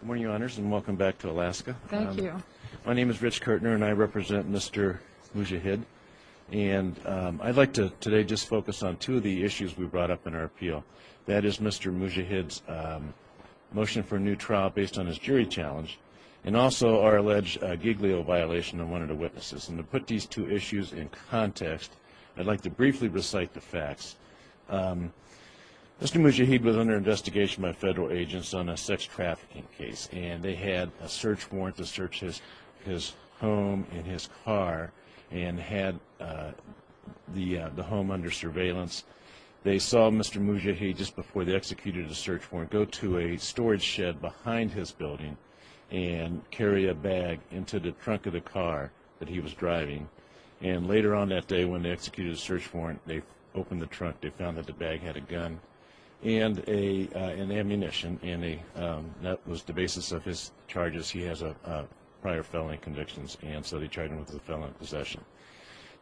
Good morning, Your Honors, and welcome back to Alaska. Thank you. My name is Rich Kertner, and I represent Mr. Mujahid. And I'd like to today just focus on two of the issues we brought up in our appeal. That is Mr. Mujahid's motion for a new trial based on his jury challenge and also our alleged giglio violation on one of the witnesses. And to put these two issues in context, I'd like to briefly recite the facts. Mr. Mujahid was under investigation by federal agents on a sex trafficking case, and they had a search warrant to search his home and his car and had the home under surveillance. They saw Mr. Mujahid just before they executed the search warrant go to a storage shed behind his building and carry a bag into the trunk of the car that he was driving. And later on that day when they executed the search warrant, they opened the trunk. They found that the bag had a gun and ammunition, and that was the basis of his charges. He has prior felony convictions, and so they charged him with a felony possession.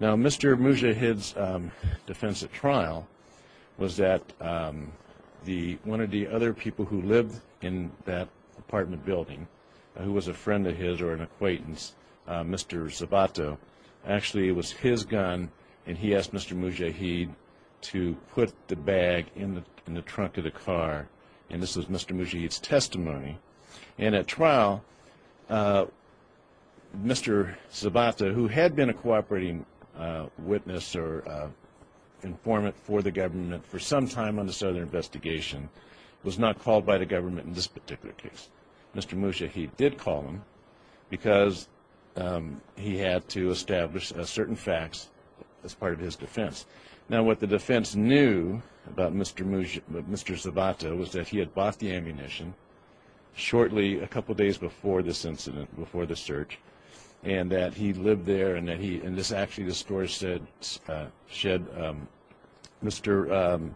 Now, Mr. Mujahid's defense at trial was that one of the other people who lived in that apartment building, who was a friend of his or an acquaintance, Mr. Zabato, actually it was his gun, and he asked Mr. Mujahid to put the bag in the trunk of the car, and this was Mr. Mujahid's testimony. And at trial, Mr. Zabato, who had been a cooperating witness or informant for the government for some time on this other investigation, was not called by the government in this particular case. Mr. Mujahid did call him because he had to establish certain facts as part of his defense. Now, what the defense knew about Mr. Zabato was that he had bought the ammunition shortly a couple days before this incident, before the search, and that he lived there, and this actually, the storage shed, Mr.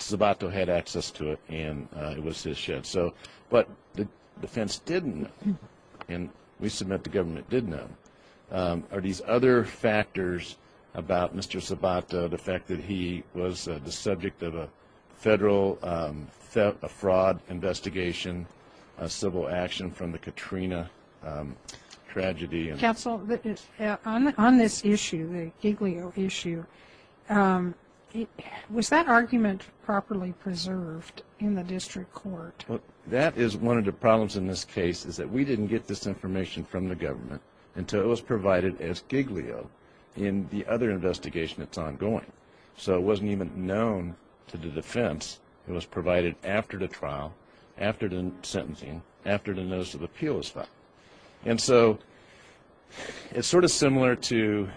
Zabato had access to it, and it was his shed. So what the defense didn't know, and we submit the government did know, are these other factors about Mr. Zabato, the fact that he was the subject of a federal fraud investigation, a civil action from the Katrina tragedy. Counsel, on this issue, the Giglio issue, was that argument properly preserved in the district court? That is one of the problems in this case, is that we didn't get this information from the government until it was provided as Giglio in the other investigation that's ongoing. So it wasn't even known to the defense. It was provided after the trial, after the sentencing, after the notice of appeal was filed. And so it's sort of similar to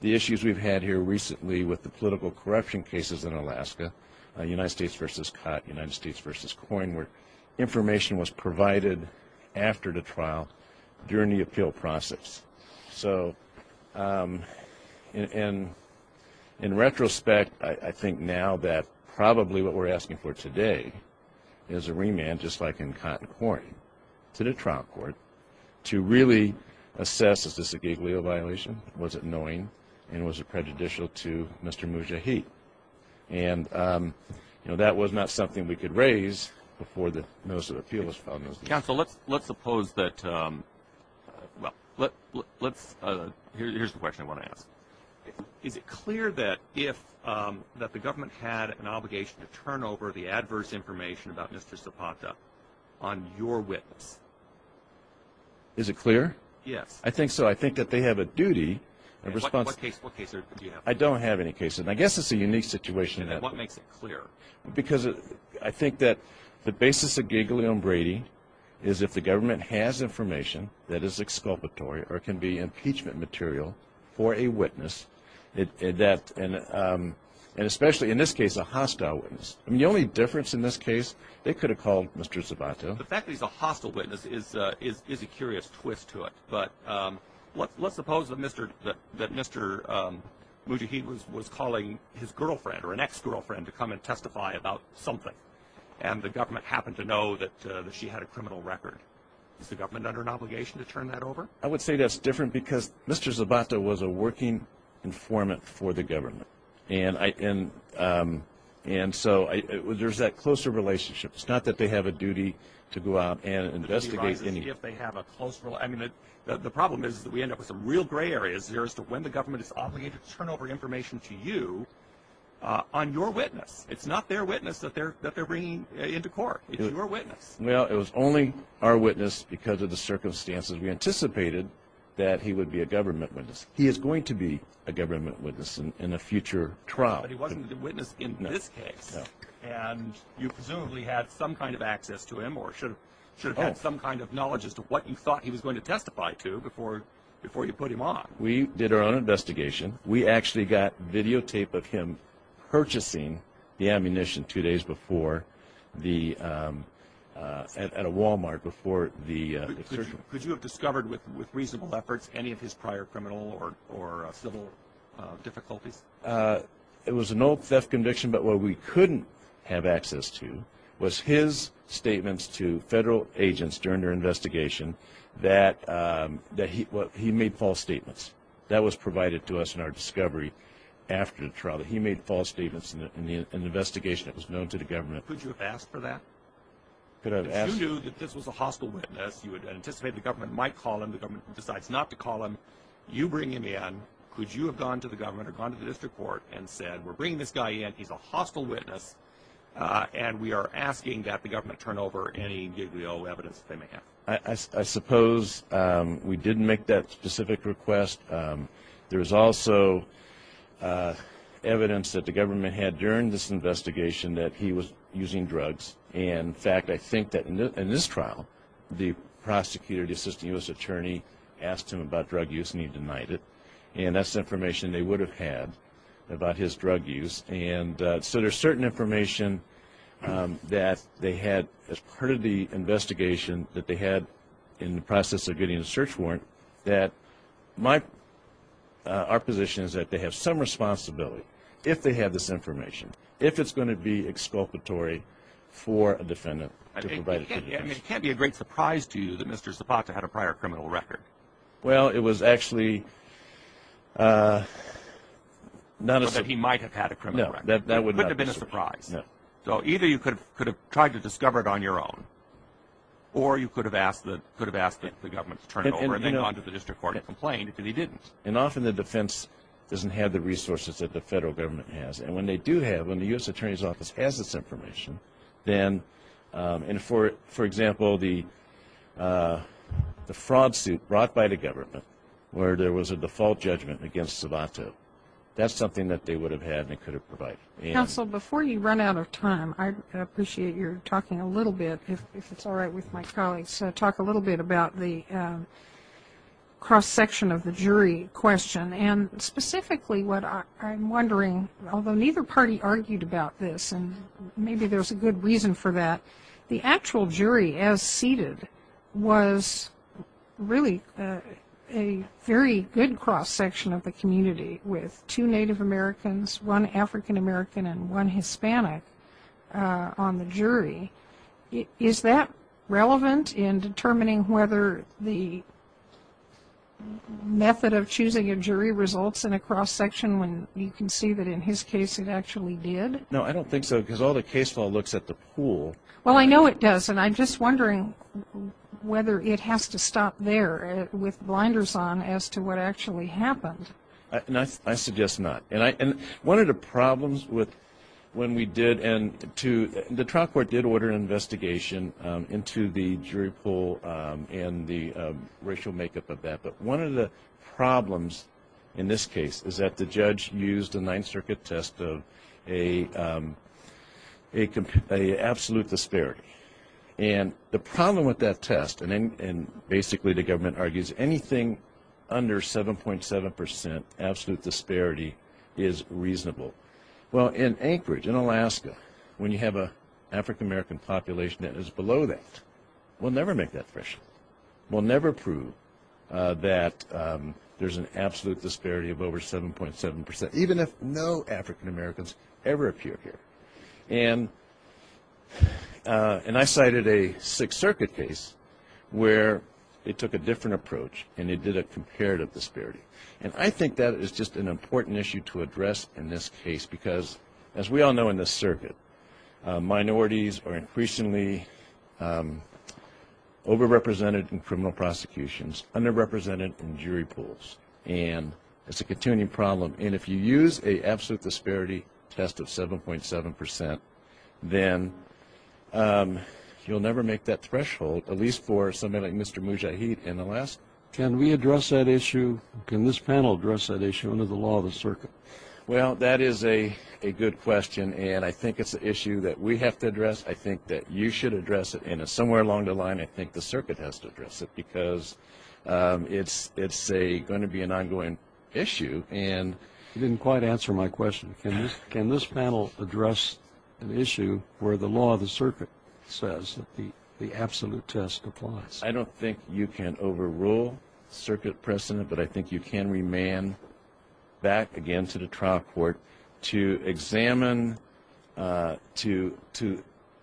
the issues we've had here recently with the political corruption cases in Alaska, United States versus COT, United States versus COIN, where information was provided after the trial during the appeal process. So in retrospect, I think now that probably what we're asking for today is a remand, just like in COT and COIN, to the trial court to really assess, is this a Giglio violation, was it annoying, and was it prejudicial to Mr. Mujahid. And that was not something we could raise before the notice of appeal was filed. Counsel, let's suppose that, well, here's the question I want to ask. Is it clear that the government had an obligation to turn over the adverse information about Mr. Zapata on your witness? Is it clear? Yes. I think so. I think that they have a duty. What case do you have? I don't have any case. And I guess it's a unique situation. What makes it clear? Because I think that the basis of Giglio and Brady is if the government has information that is exculpatory or can be impeachment material for a witness, and especially in this case a hostile witness. I mean, the only difference in this case, they could have called Mr. Zapata. The fact that he's a hostile witness is a curious twist to it. But let's suppose that Mr. Mujahid was calling his girlfriend or an ex-girlfriend to come and testify about something, and the government happened to know that she had a criminal record. Is the government under an obligation to turn that over? I would say that's different because Mr. Zapata was a working informant for the government. And so there's that closer relationship. It's not that they have a duty to go out and investigate. The problem is that we end up with some real gray areas here as to when the government is obligated to turn over information to you on your witness. It's not their witness that they're bringing into court. It's your witness. Well, it was only our witness because of the circumstances. We anticipated that he would be a government witness. He is going to be a government witness in a future trial. But he wasn't the witness in this case. No. And you presumably had some kind of access to him or should have had some kind of knowledge as to what you thought he was going to testify to before you put him on. We did our own investigation. We actually got videotape of him purchasing the ammunition two days before at a Wal-Mart. Could you have discovered with reasonable efforts any of his prior criminal or civil difficulties? It was an old theft conviction. But what we couldn't have access to was his statements to federal agents during their investigation that he made false statements. That was provided to us in our discovery after the trial. He made false statements in an investigation that was known to the government. Could you have asked for that? Could I have asked? If you knew that this was a hostile witness, you would anticipate the government might call him. The government decides not to call him. You bring him in. Could you have gone to the government or gone to the district court and said, We're bringing this guy in. He's a hostile witness. And we are asking that the government turn over any giglio evidence that they may have. I suppose we didn't make that specific request. There is also evidence that the government had during this investigation that he was using drugs. In fact, I think that in this trial, the prosecutor, the assistant U.S. attorney, asked him about drug use and he denied it. And that's the information they would have had about his drug use. So there's certain information that they had as part of the investigation that they had in the process of getting a search warrant that our position is that they have some responsibility, if they have this information, if it's going to be exculpatory for a defendant. It can't be a great surprise to you that Mr. Zapata had a prior criminal record. Well, it was actually not a surprise. But he might have had a criminal record. No, that would not have been a surprise. So either you could have tried to discover it on your own or you could have asked the government to turn it over and then gone to the district court and complained, and he didn't. And often the defense doesn't have the resources that the federal government has. And when they do have, when the U.S. attorney's office has this information, then, and for example, the fraud suit brought by the government where there was a default judgment against Zapata, that's something that they would have had and could have provided. Counsel, before you run out of time, I appreciate your talking a little bit, if it's all right with my colleagues, talk a little bit about the cross-section of the jury question. And specifically what I'm wondering, although neither party argued about this, and maybe there's a good reason for that, the actual jury as seated was really a very good cross-section of the community. With two Native Americans, one African American, and one Hispanic on the jury, is that relevant in determining whether the method of choosing a jury results in a cross-section when you can see that in his case it actually did? No, I don't think so, because all the case law looks at the pool. Well, I know it does, and I'm just wondering whether it has to stop there with blinders on as to what actually happened. I suggest not. One of the problems when we did, and the trial court did order an investigation into the jury pool and the racial makeup of that, but one of the problems in this case is that the judge used a Ninth Circuit test of an absolute disparity. And the problem with that test, and basically the government argues anything under 7.7% absolute disparity is reasonable. Well, in Anchorage, in Alaska, when you have an African American population that is below that, we'll never make that threshold. We'll never prove that there's an absolute disparity of over 7.7%, even if no African Americans ever appear here. And I cited a Sixth Circuit case where they took a different approach, and they did a comparative disparity. And I think that is just an important issue to address in this case, because as we all know in this circuit, minorities are increasingly overrepresented in criminal prosecutions, underrepresented in jury pools, and it's a continuing problem. And if you use an absolute disparity test of 7.7%, then you'll never make that threshold, at least for somebody like Mr. Mujahid in Alaska. Can we address that issue? Can this panel address that issue under the law of the circuit? Well, that is a good question, and I think it's an issue that we have to address. I think that you should address it. And somewhere along the line, I think the circuit has to address it, because it's going to be an ongoing issue. And you didn't quite answer my question. Can this panel address an issue where the law of the circuit says that the absolute test applies? I don't think you can overrule circuit precedent, but I think you can remand back again to the trial court to examine, to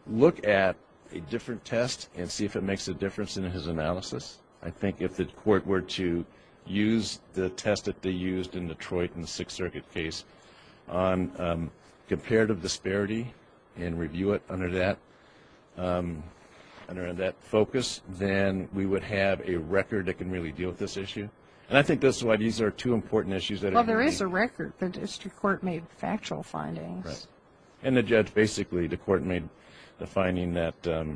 look at a different test and see if it makes a difference in his analysis. I think if the court were to use the test that they used in Detroit in the Sixth Circuit case on comparative disparity and review it under that focus, then we would have a record that can really deal with this issue. And I think that's why these are two important issues. Well, there is a record. The district court made factual findings. And the judge basically, the court made the finding that there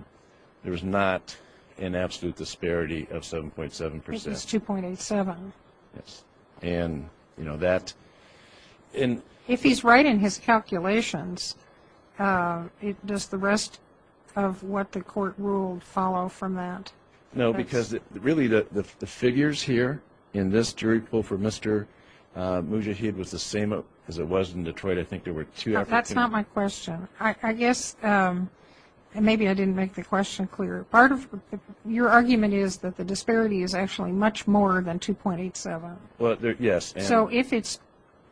was not an absolute disparity of 7.7%. It was 2.87%. Yes. And, you know, that. If he's right in his calculations, does the rest of what the court ruled follow from that? No, because really the figures here in this jury poll for Mr. Mujahid was the same as it was in Detroit. That's not my question. I guess maybe I didn't make the question clear. Your argument is that the disparity is actually much more than 2.87%. Yes. So if it's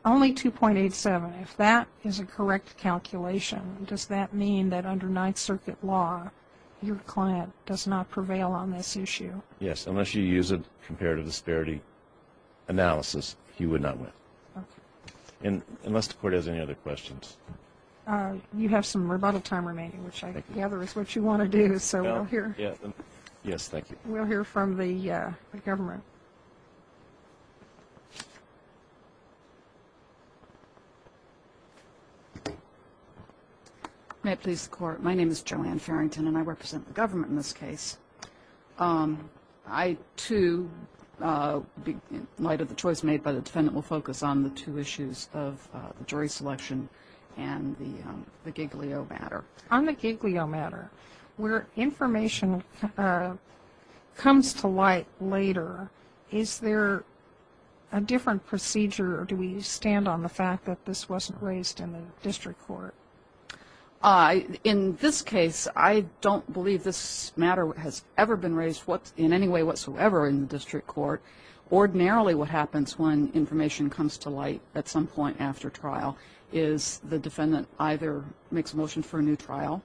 only 2.87%, if that is a correct calculation, does that mean that under Ninth Circuit law your client does not prevail on this issue? Yes, unless you use a comparative disparity analysis, he would not win. Okay. Unless the court has any other questions. You have some rebuttal time remaining, which I gather is what you want to do, so we'll hear. Yes, thank you. We'll hear from the government. May it please the Court. My name is Joanne Farrington, and I represent the government in this case. I, too, in light of the choice made by the defendant, will focus on the two issues of the jury selection and the Giglio matter. On the Giglio matter, where information comes to light later, is there a different procedure, or do we stand on the fact that this wasn't raised in the district court? In this case, I don't believe this matter has ever been raised in any way whatsoever in the district court. Ordinarily what happens when information comes to light at some point after trial is the defendant either makes a motion for a new trial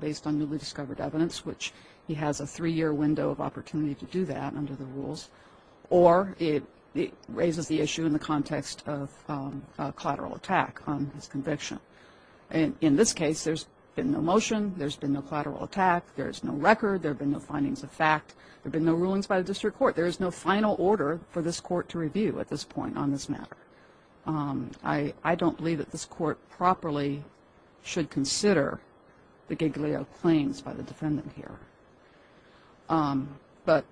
based on newly discovered evidence, which he has a three-year window of opportunity to do that under the rules, or it raises the issue in the context of collateral attack on his conviction. In this case, there's been no motion. There's been no collateral attack. There's no record. There have been no findings of fact. There have been no rulings by the district court. There is no final order for this court to review at this point on this matter. I don't believe that this court properly should consider the Giglio claims by the defendant here. But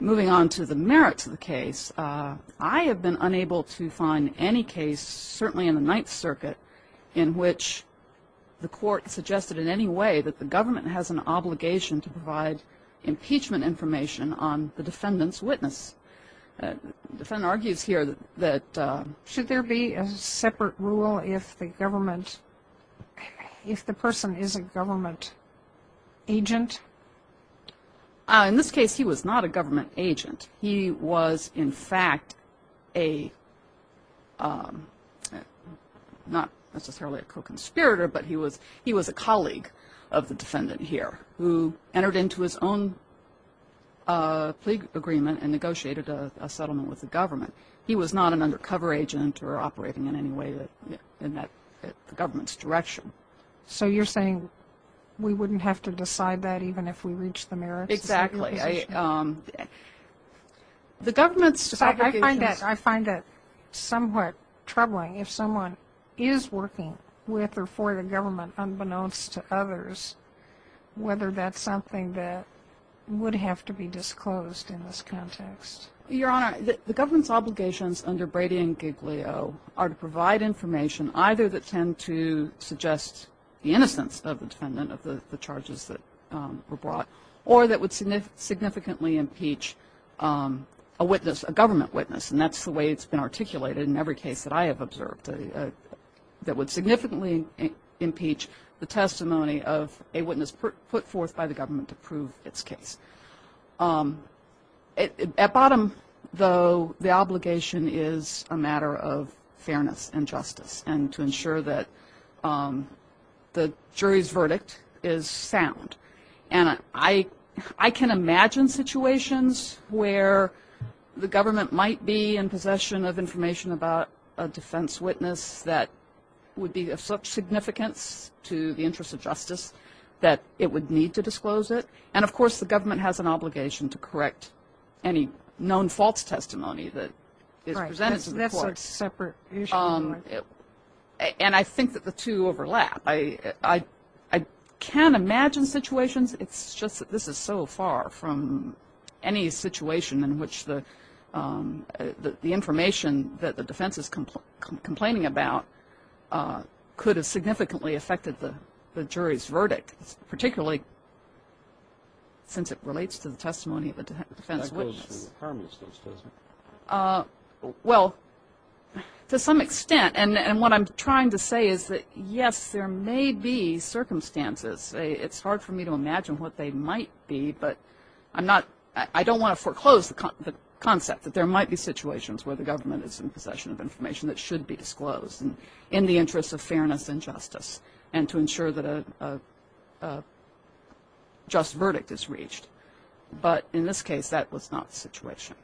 moving on to the merits of the case, I have been unable to find any case certainly in the Ninth Circuit in which the court suggested in any way that the government has an obligation to provide impeachment information on the defendant's witness. The defendant argues here that should there be a separate rule if the government, if the person is a government agent. In this case, he was not a government agent. He was, in fact, not necessarily a co-conspirator, but he was a colleague of the defendant here who entered into his own plea agreement and negotiated a settlement with the government. He was not an undercover agent or operating in any way in the government's direction. So you're saying we wouldn't have to decide that even if we reached the merits? Exactly. The government's obligation. I find that somewhat troubling. If someone is working with or for the government unbeknownst to others, whether that's something that would have to be disclosed in this context. Your Honor, the government's obligations under Brady and Giglio are to provide information either that tend to suggest the innocence of the defendant of the charges that were brought or that would significantly impeach a witness, a government witness. And that's the way it's been articulated in every case that I have observed, that would significantly impeach the testimony of a witness put forth by the government to prove its case. At bottom, though, the obligation is a matter of fairness and justice and to ensure that the jury's verdict is sound. And I can imagine situations where the government might be in possession of information about a defense witness that would be of such significance to the interest of justice that it would need to disclose it. And, of course, the government has an obligation to correct any known false testimony that is presented to the court. Right. That's a separate issue. And I think that the two overlap. I can imagine situations. It's just that this is so far from any situation in which the information that the defense is complaining about could have significantly affected the jury's verdict, particularly since it relates to the testimony of a defense witness. That goes to the harmonist, though, doesn't it? Well, to some extent. And what I'm trying to say is that, yes, there may be circumstances. It's hard for me to imagine what they might be, but I don't want to foreclose the concept that there might be situations where the government is in possession of information that should be disclosed in the interest of fairness and justice and to ensure that a just verdict is reached. But in this case, that was not the situation.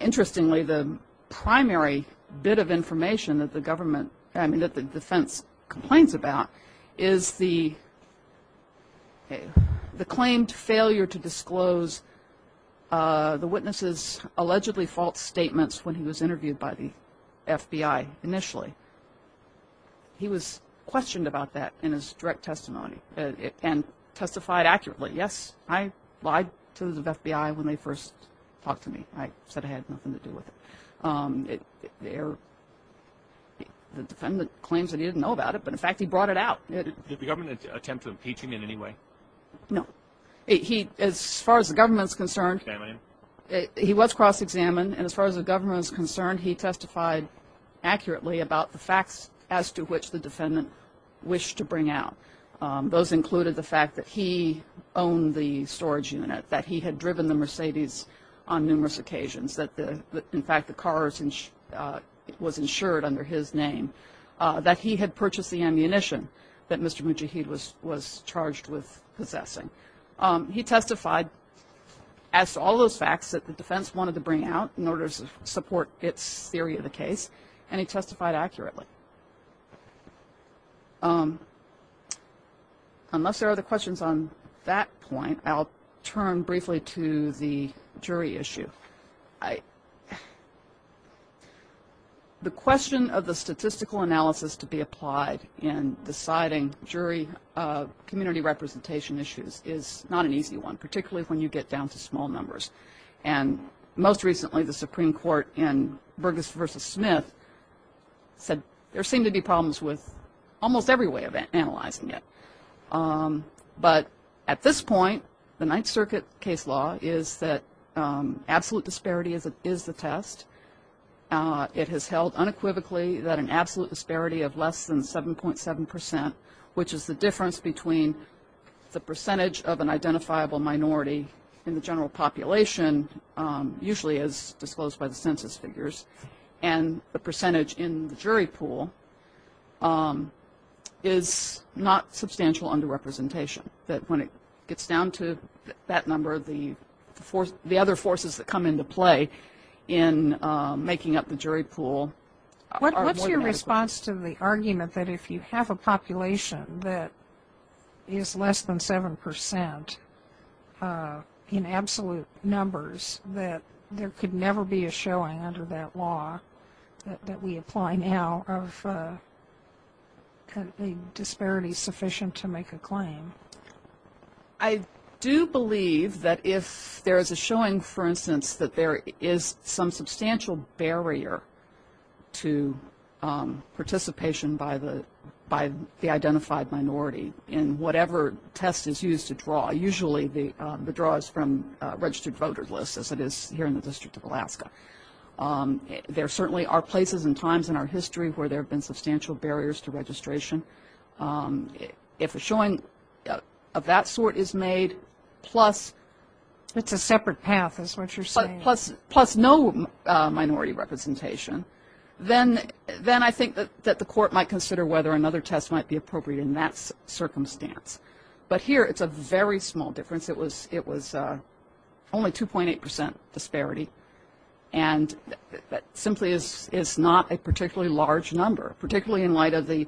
Interestingly, the primary bit of information that the defense complains about is the claimed failure to disclose the witness's allegedly false statements when he was interviewed by the FBI initially. He was questioned about that in his direct testimony and testified accurately. Yes, I lied to the FBI when they first talked to me. I said I had nothing to do with it. The defendant claims that he didn't know about it, but, in fact, he brought it out. Did the government attempt to impeach him in any way? No. As far as the government is concerned, he was cross-examined, and as far as the government is concerned, he testified accurately about the facts as to which the defendant wished to bring out. Those included the fact that he owned the storage unit, that he had driven the Mercedes on numerous occasions, that, in fact, the car was insured under his name, that he had purchased the ammunition that Mr. Mujahid was charged with possessing. He testified as to all those facts that the defense wanted to bring out in order to support its theory of the case, and he testified accurately. Unless there are other questions on that point, I'll turn briefly to the jury issue. The question of the statistical analysis to be applied in deciding jury community representation issues is not an easy one, particularly when you get down to small numbers. And most recently, the Supreme Court in Burgess v. Smith said there seemed to be problems with almost every way of analyzing it. But at this point, the Ninth Circuit case law is that absolute disparity is the test. It has held unequivocally that an absolute disparity of less than 7.7 percent, which is the difference between the percentage of an identifiable minority in the general population, usually as disclosed by the census figures, and the percentage in the jury pool, is not substantial underrepresentation, that when it gets down to that number, the other forces that come into play in making up the jury pool are more than adequate. In response to the argument that if you have a population that is less than 7 percent in absolute numbers, that there could never be a showing under that law that we apply now of a disparity sufficient to make a claim. I do believe that if there is a showing, for instance, that there is some substantial barrier to participation by the identified minority in whatever test is used to draw. Usually the draw is from registered voter lists, as it is here in the District of Alaska. There certainly are places and times in our history where there have been substantial barriers to registration. If a showing of that sort is made plus no minority representation, then I think that the court might consider whether another test might be appropriate in that circumstance. But here it's a very small difference. It was only 2.8 percent disparity, and that simply is not a particularly large number, particularly in light of the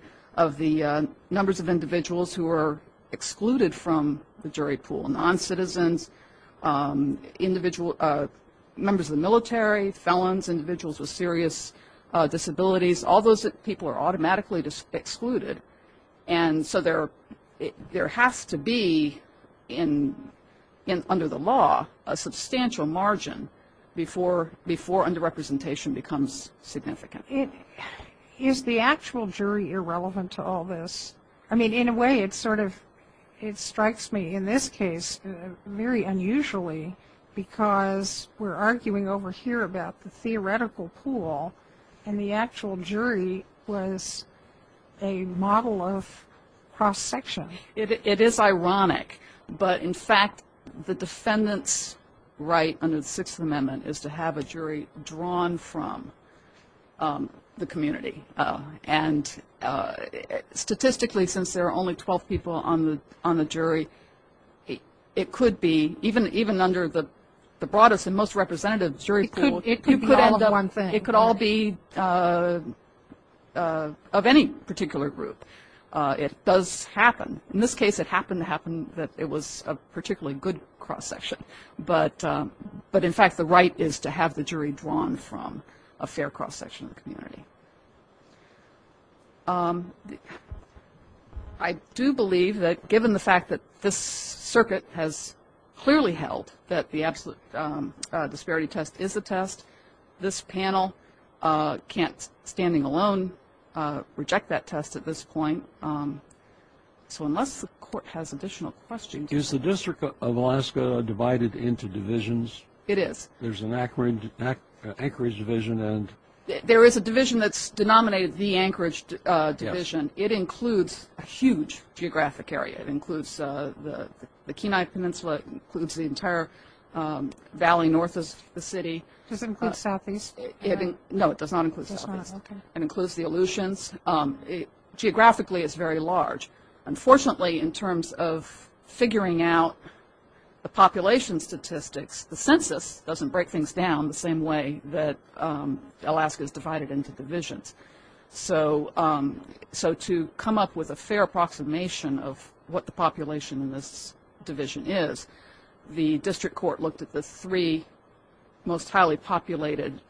numbers of individuals who are excluded from the jury pool, noncitizens, members of the military, felons, individuals with serious disabilities. All those people are automatically excluded. And so there has to be, under the law, a substantial margin before underrepresentation becomes significant. Is the actual jury irrelevant to all this? I mean, in a way, it sort of strikes me in this case very unusually because we're arguing over here about the theoretical pool, and the actual jury was a model of cross-section. It is ironic. But, in fact, the defendant's right under the Sixth Amendment is to have a jury drawn from the community. And statistically, since there are only 12 people on the jury, it could be, even under the broadest and most representative jury pool, it could all be of any particular group. It does happen. In this case, it happened to happen that it was a particularly good cross-section. But, in fact, the right is to have the jury drawn from a fair cross-section of the community. I do believe that, given the fact that this circuit has clearly held that the absolute disparity test is a test, this panel can't, standing alone, reject that test at this point. So, unless the court has additional questions. Is the District of Alaska divided into divisions? It is. There's an Anchorage division. There is a division that's denominated the Anchorage division. Yes. It includes a huge geographic area. It includes the Kenai Peninsula. It includes the entire valley north of the city. Does it include southeast? No, it does not include southeast. It includes the Aleutians. Geographically, it's very large. Unfortunately, in terms of figuring out the population statistics, the census doesn't break things down the same way that Alaska is divided into divisions. So, to come up with a fair approximation of what the population in this division is, the district court looked at the three most highly populated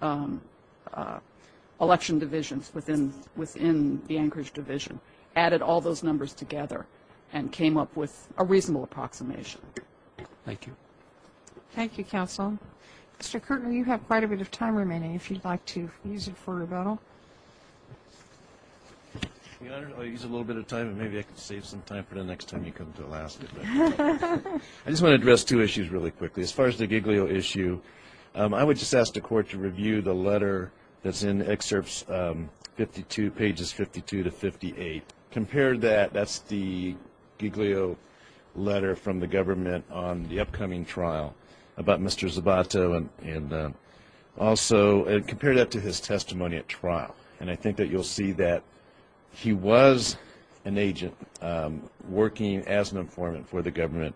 election divisions within the Anchorage division, added all those numbers together, and came up with a reasonable approximation. Thank you. Thank you, counsel. Mr. Kertner, you have quite a bit of time remaining, if you'd like to use it for rebuttal. Your Honor, I'll use a little bit of time, and maybe I can save some time for the next time you come to Alaska. I just want to address two issues really quickly. As far as the Giglio issue, I would just ask the court to review the letter that's in excerpts 52, pages 52 to 58. Compare that. That's the Giglio letter from the government on the upcoming trial about Mr. Zabato, and I think that you'll see that he was an agent working as an informant for the government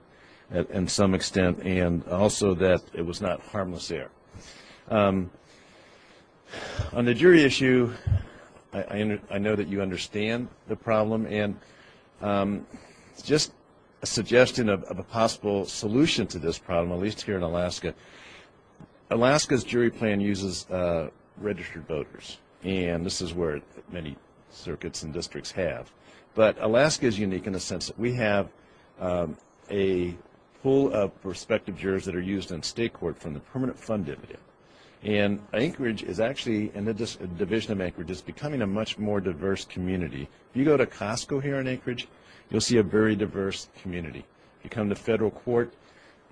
in some extent, and also that it was not harmless there. On the jury issue, I know that you understand the problem, and it's just a suggestion of a possible solution to this problem, at least here in Alaska. Alaska's jury plan uses registered voters, and this is where many circuits and districts have. But Alaska is unique in the sense that we have a pool of prospective jurors that are used on state court from the permanent fund dividend. And Anchorage is actually, and the Division of Anchorage, is becoming a much more diverse community. If you go to Costco here in Anchorage, you'll see a very diverse community. If you come to federal court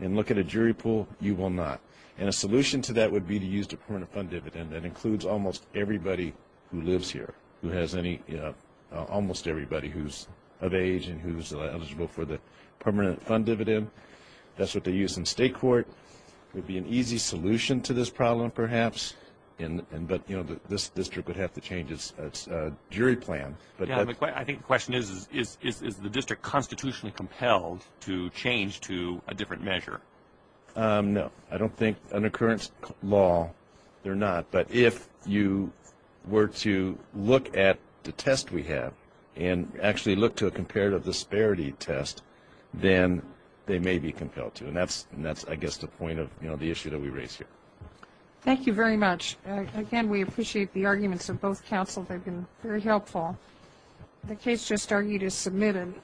and look at a jury pool, you will not. And a solution to that would be to use the permanent fund dividend that includes almost everybody who lives here, who has any, almost everybody who's of age and who's eligible for the permanent fund dividend. That's what they use in state court. It would be an easy solution to this problem, perhaps, but this district would have to change its jury plan. I think the question is, is the district constitutionally compelled to change to a different measure? No. I don't think under current law they're not. But if you were to look at the test we have and actually look to a comparative disparity test, then they may be compelled to. And that's, I guess, the point of the issue that we raise here. Thank you very much. Again, we appreciate the arguments of both counsel. They've been very helpful. The case just argued is submitted.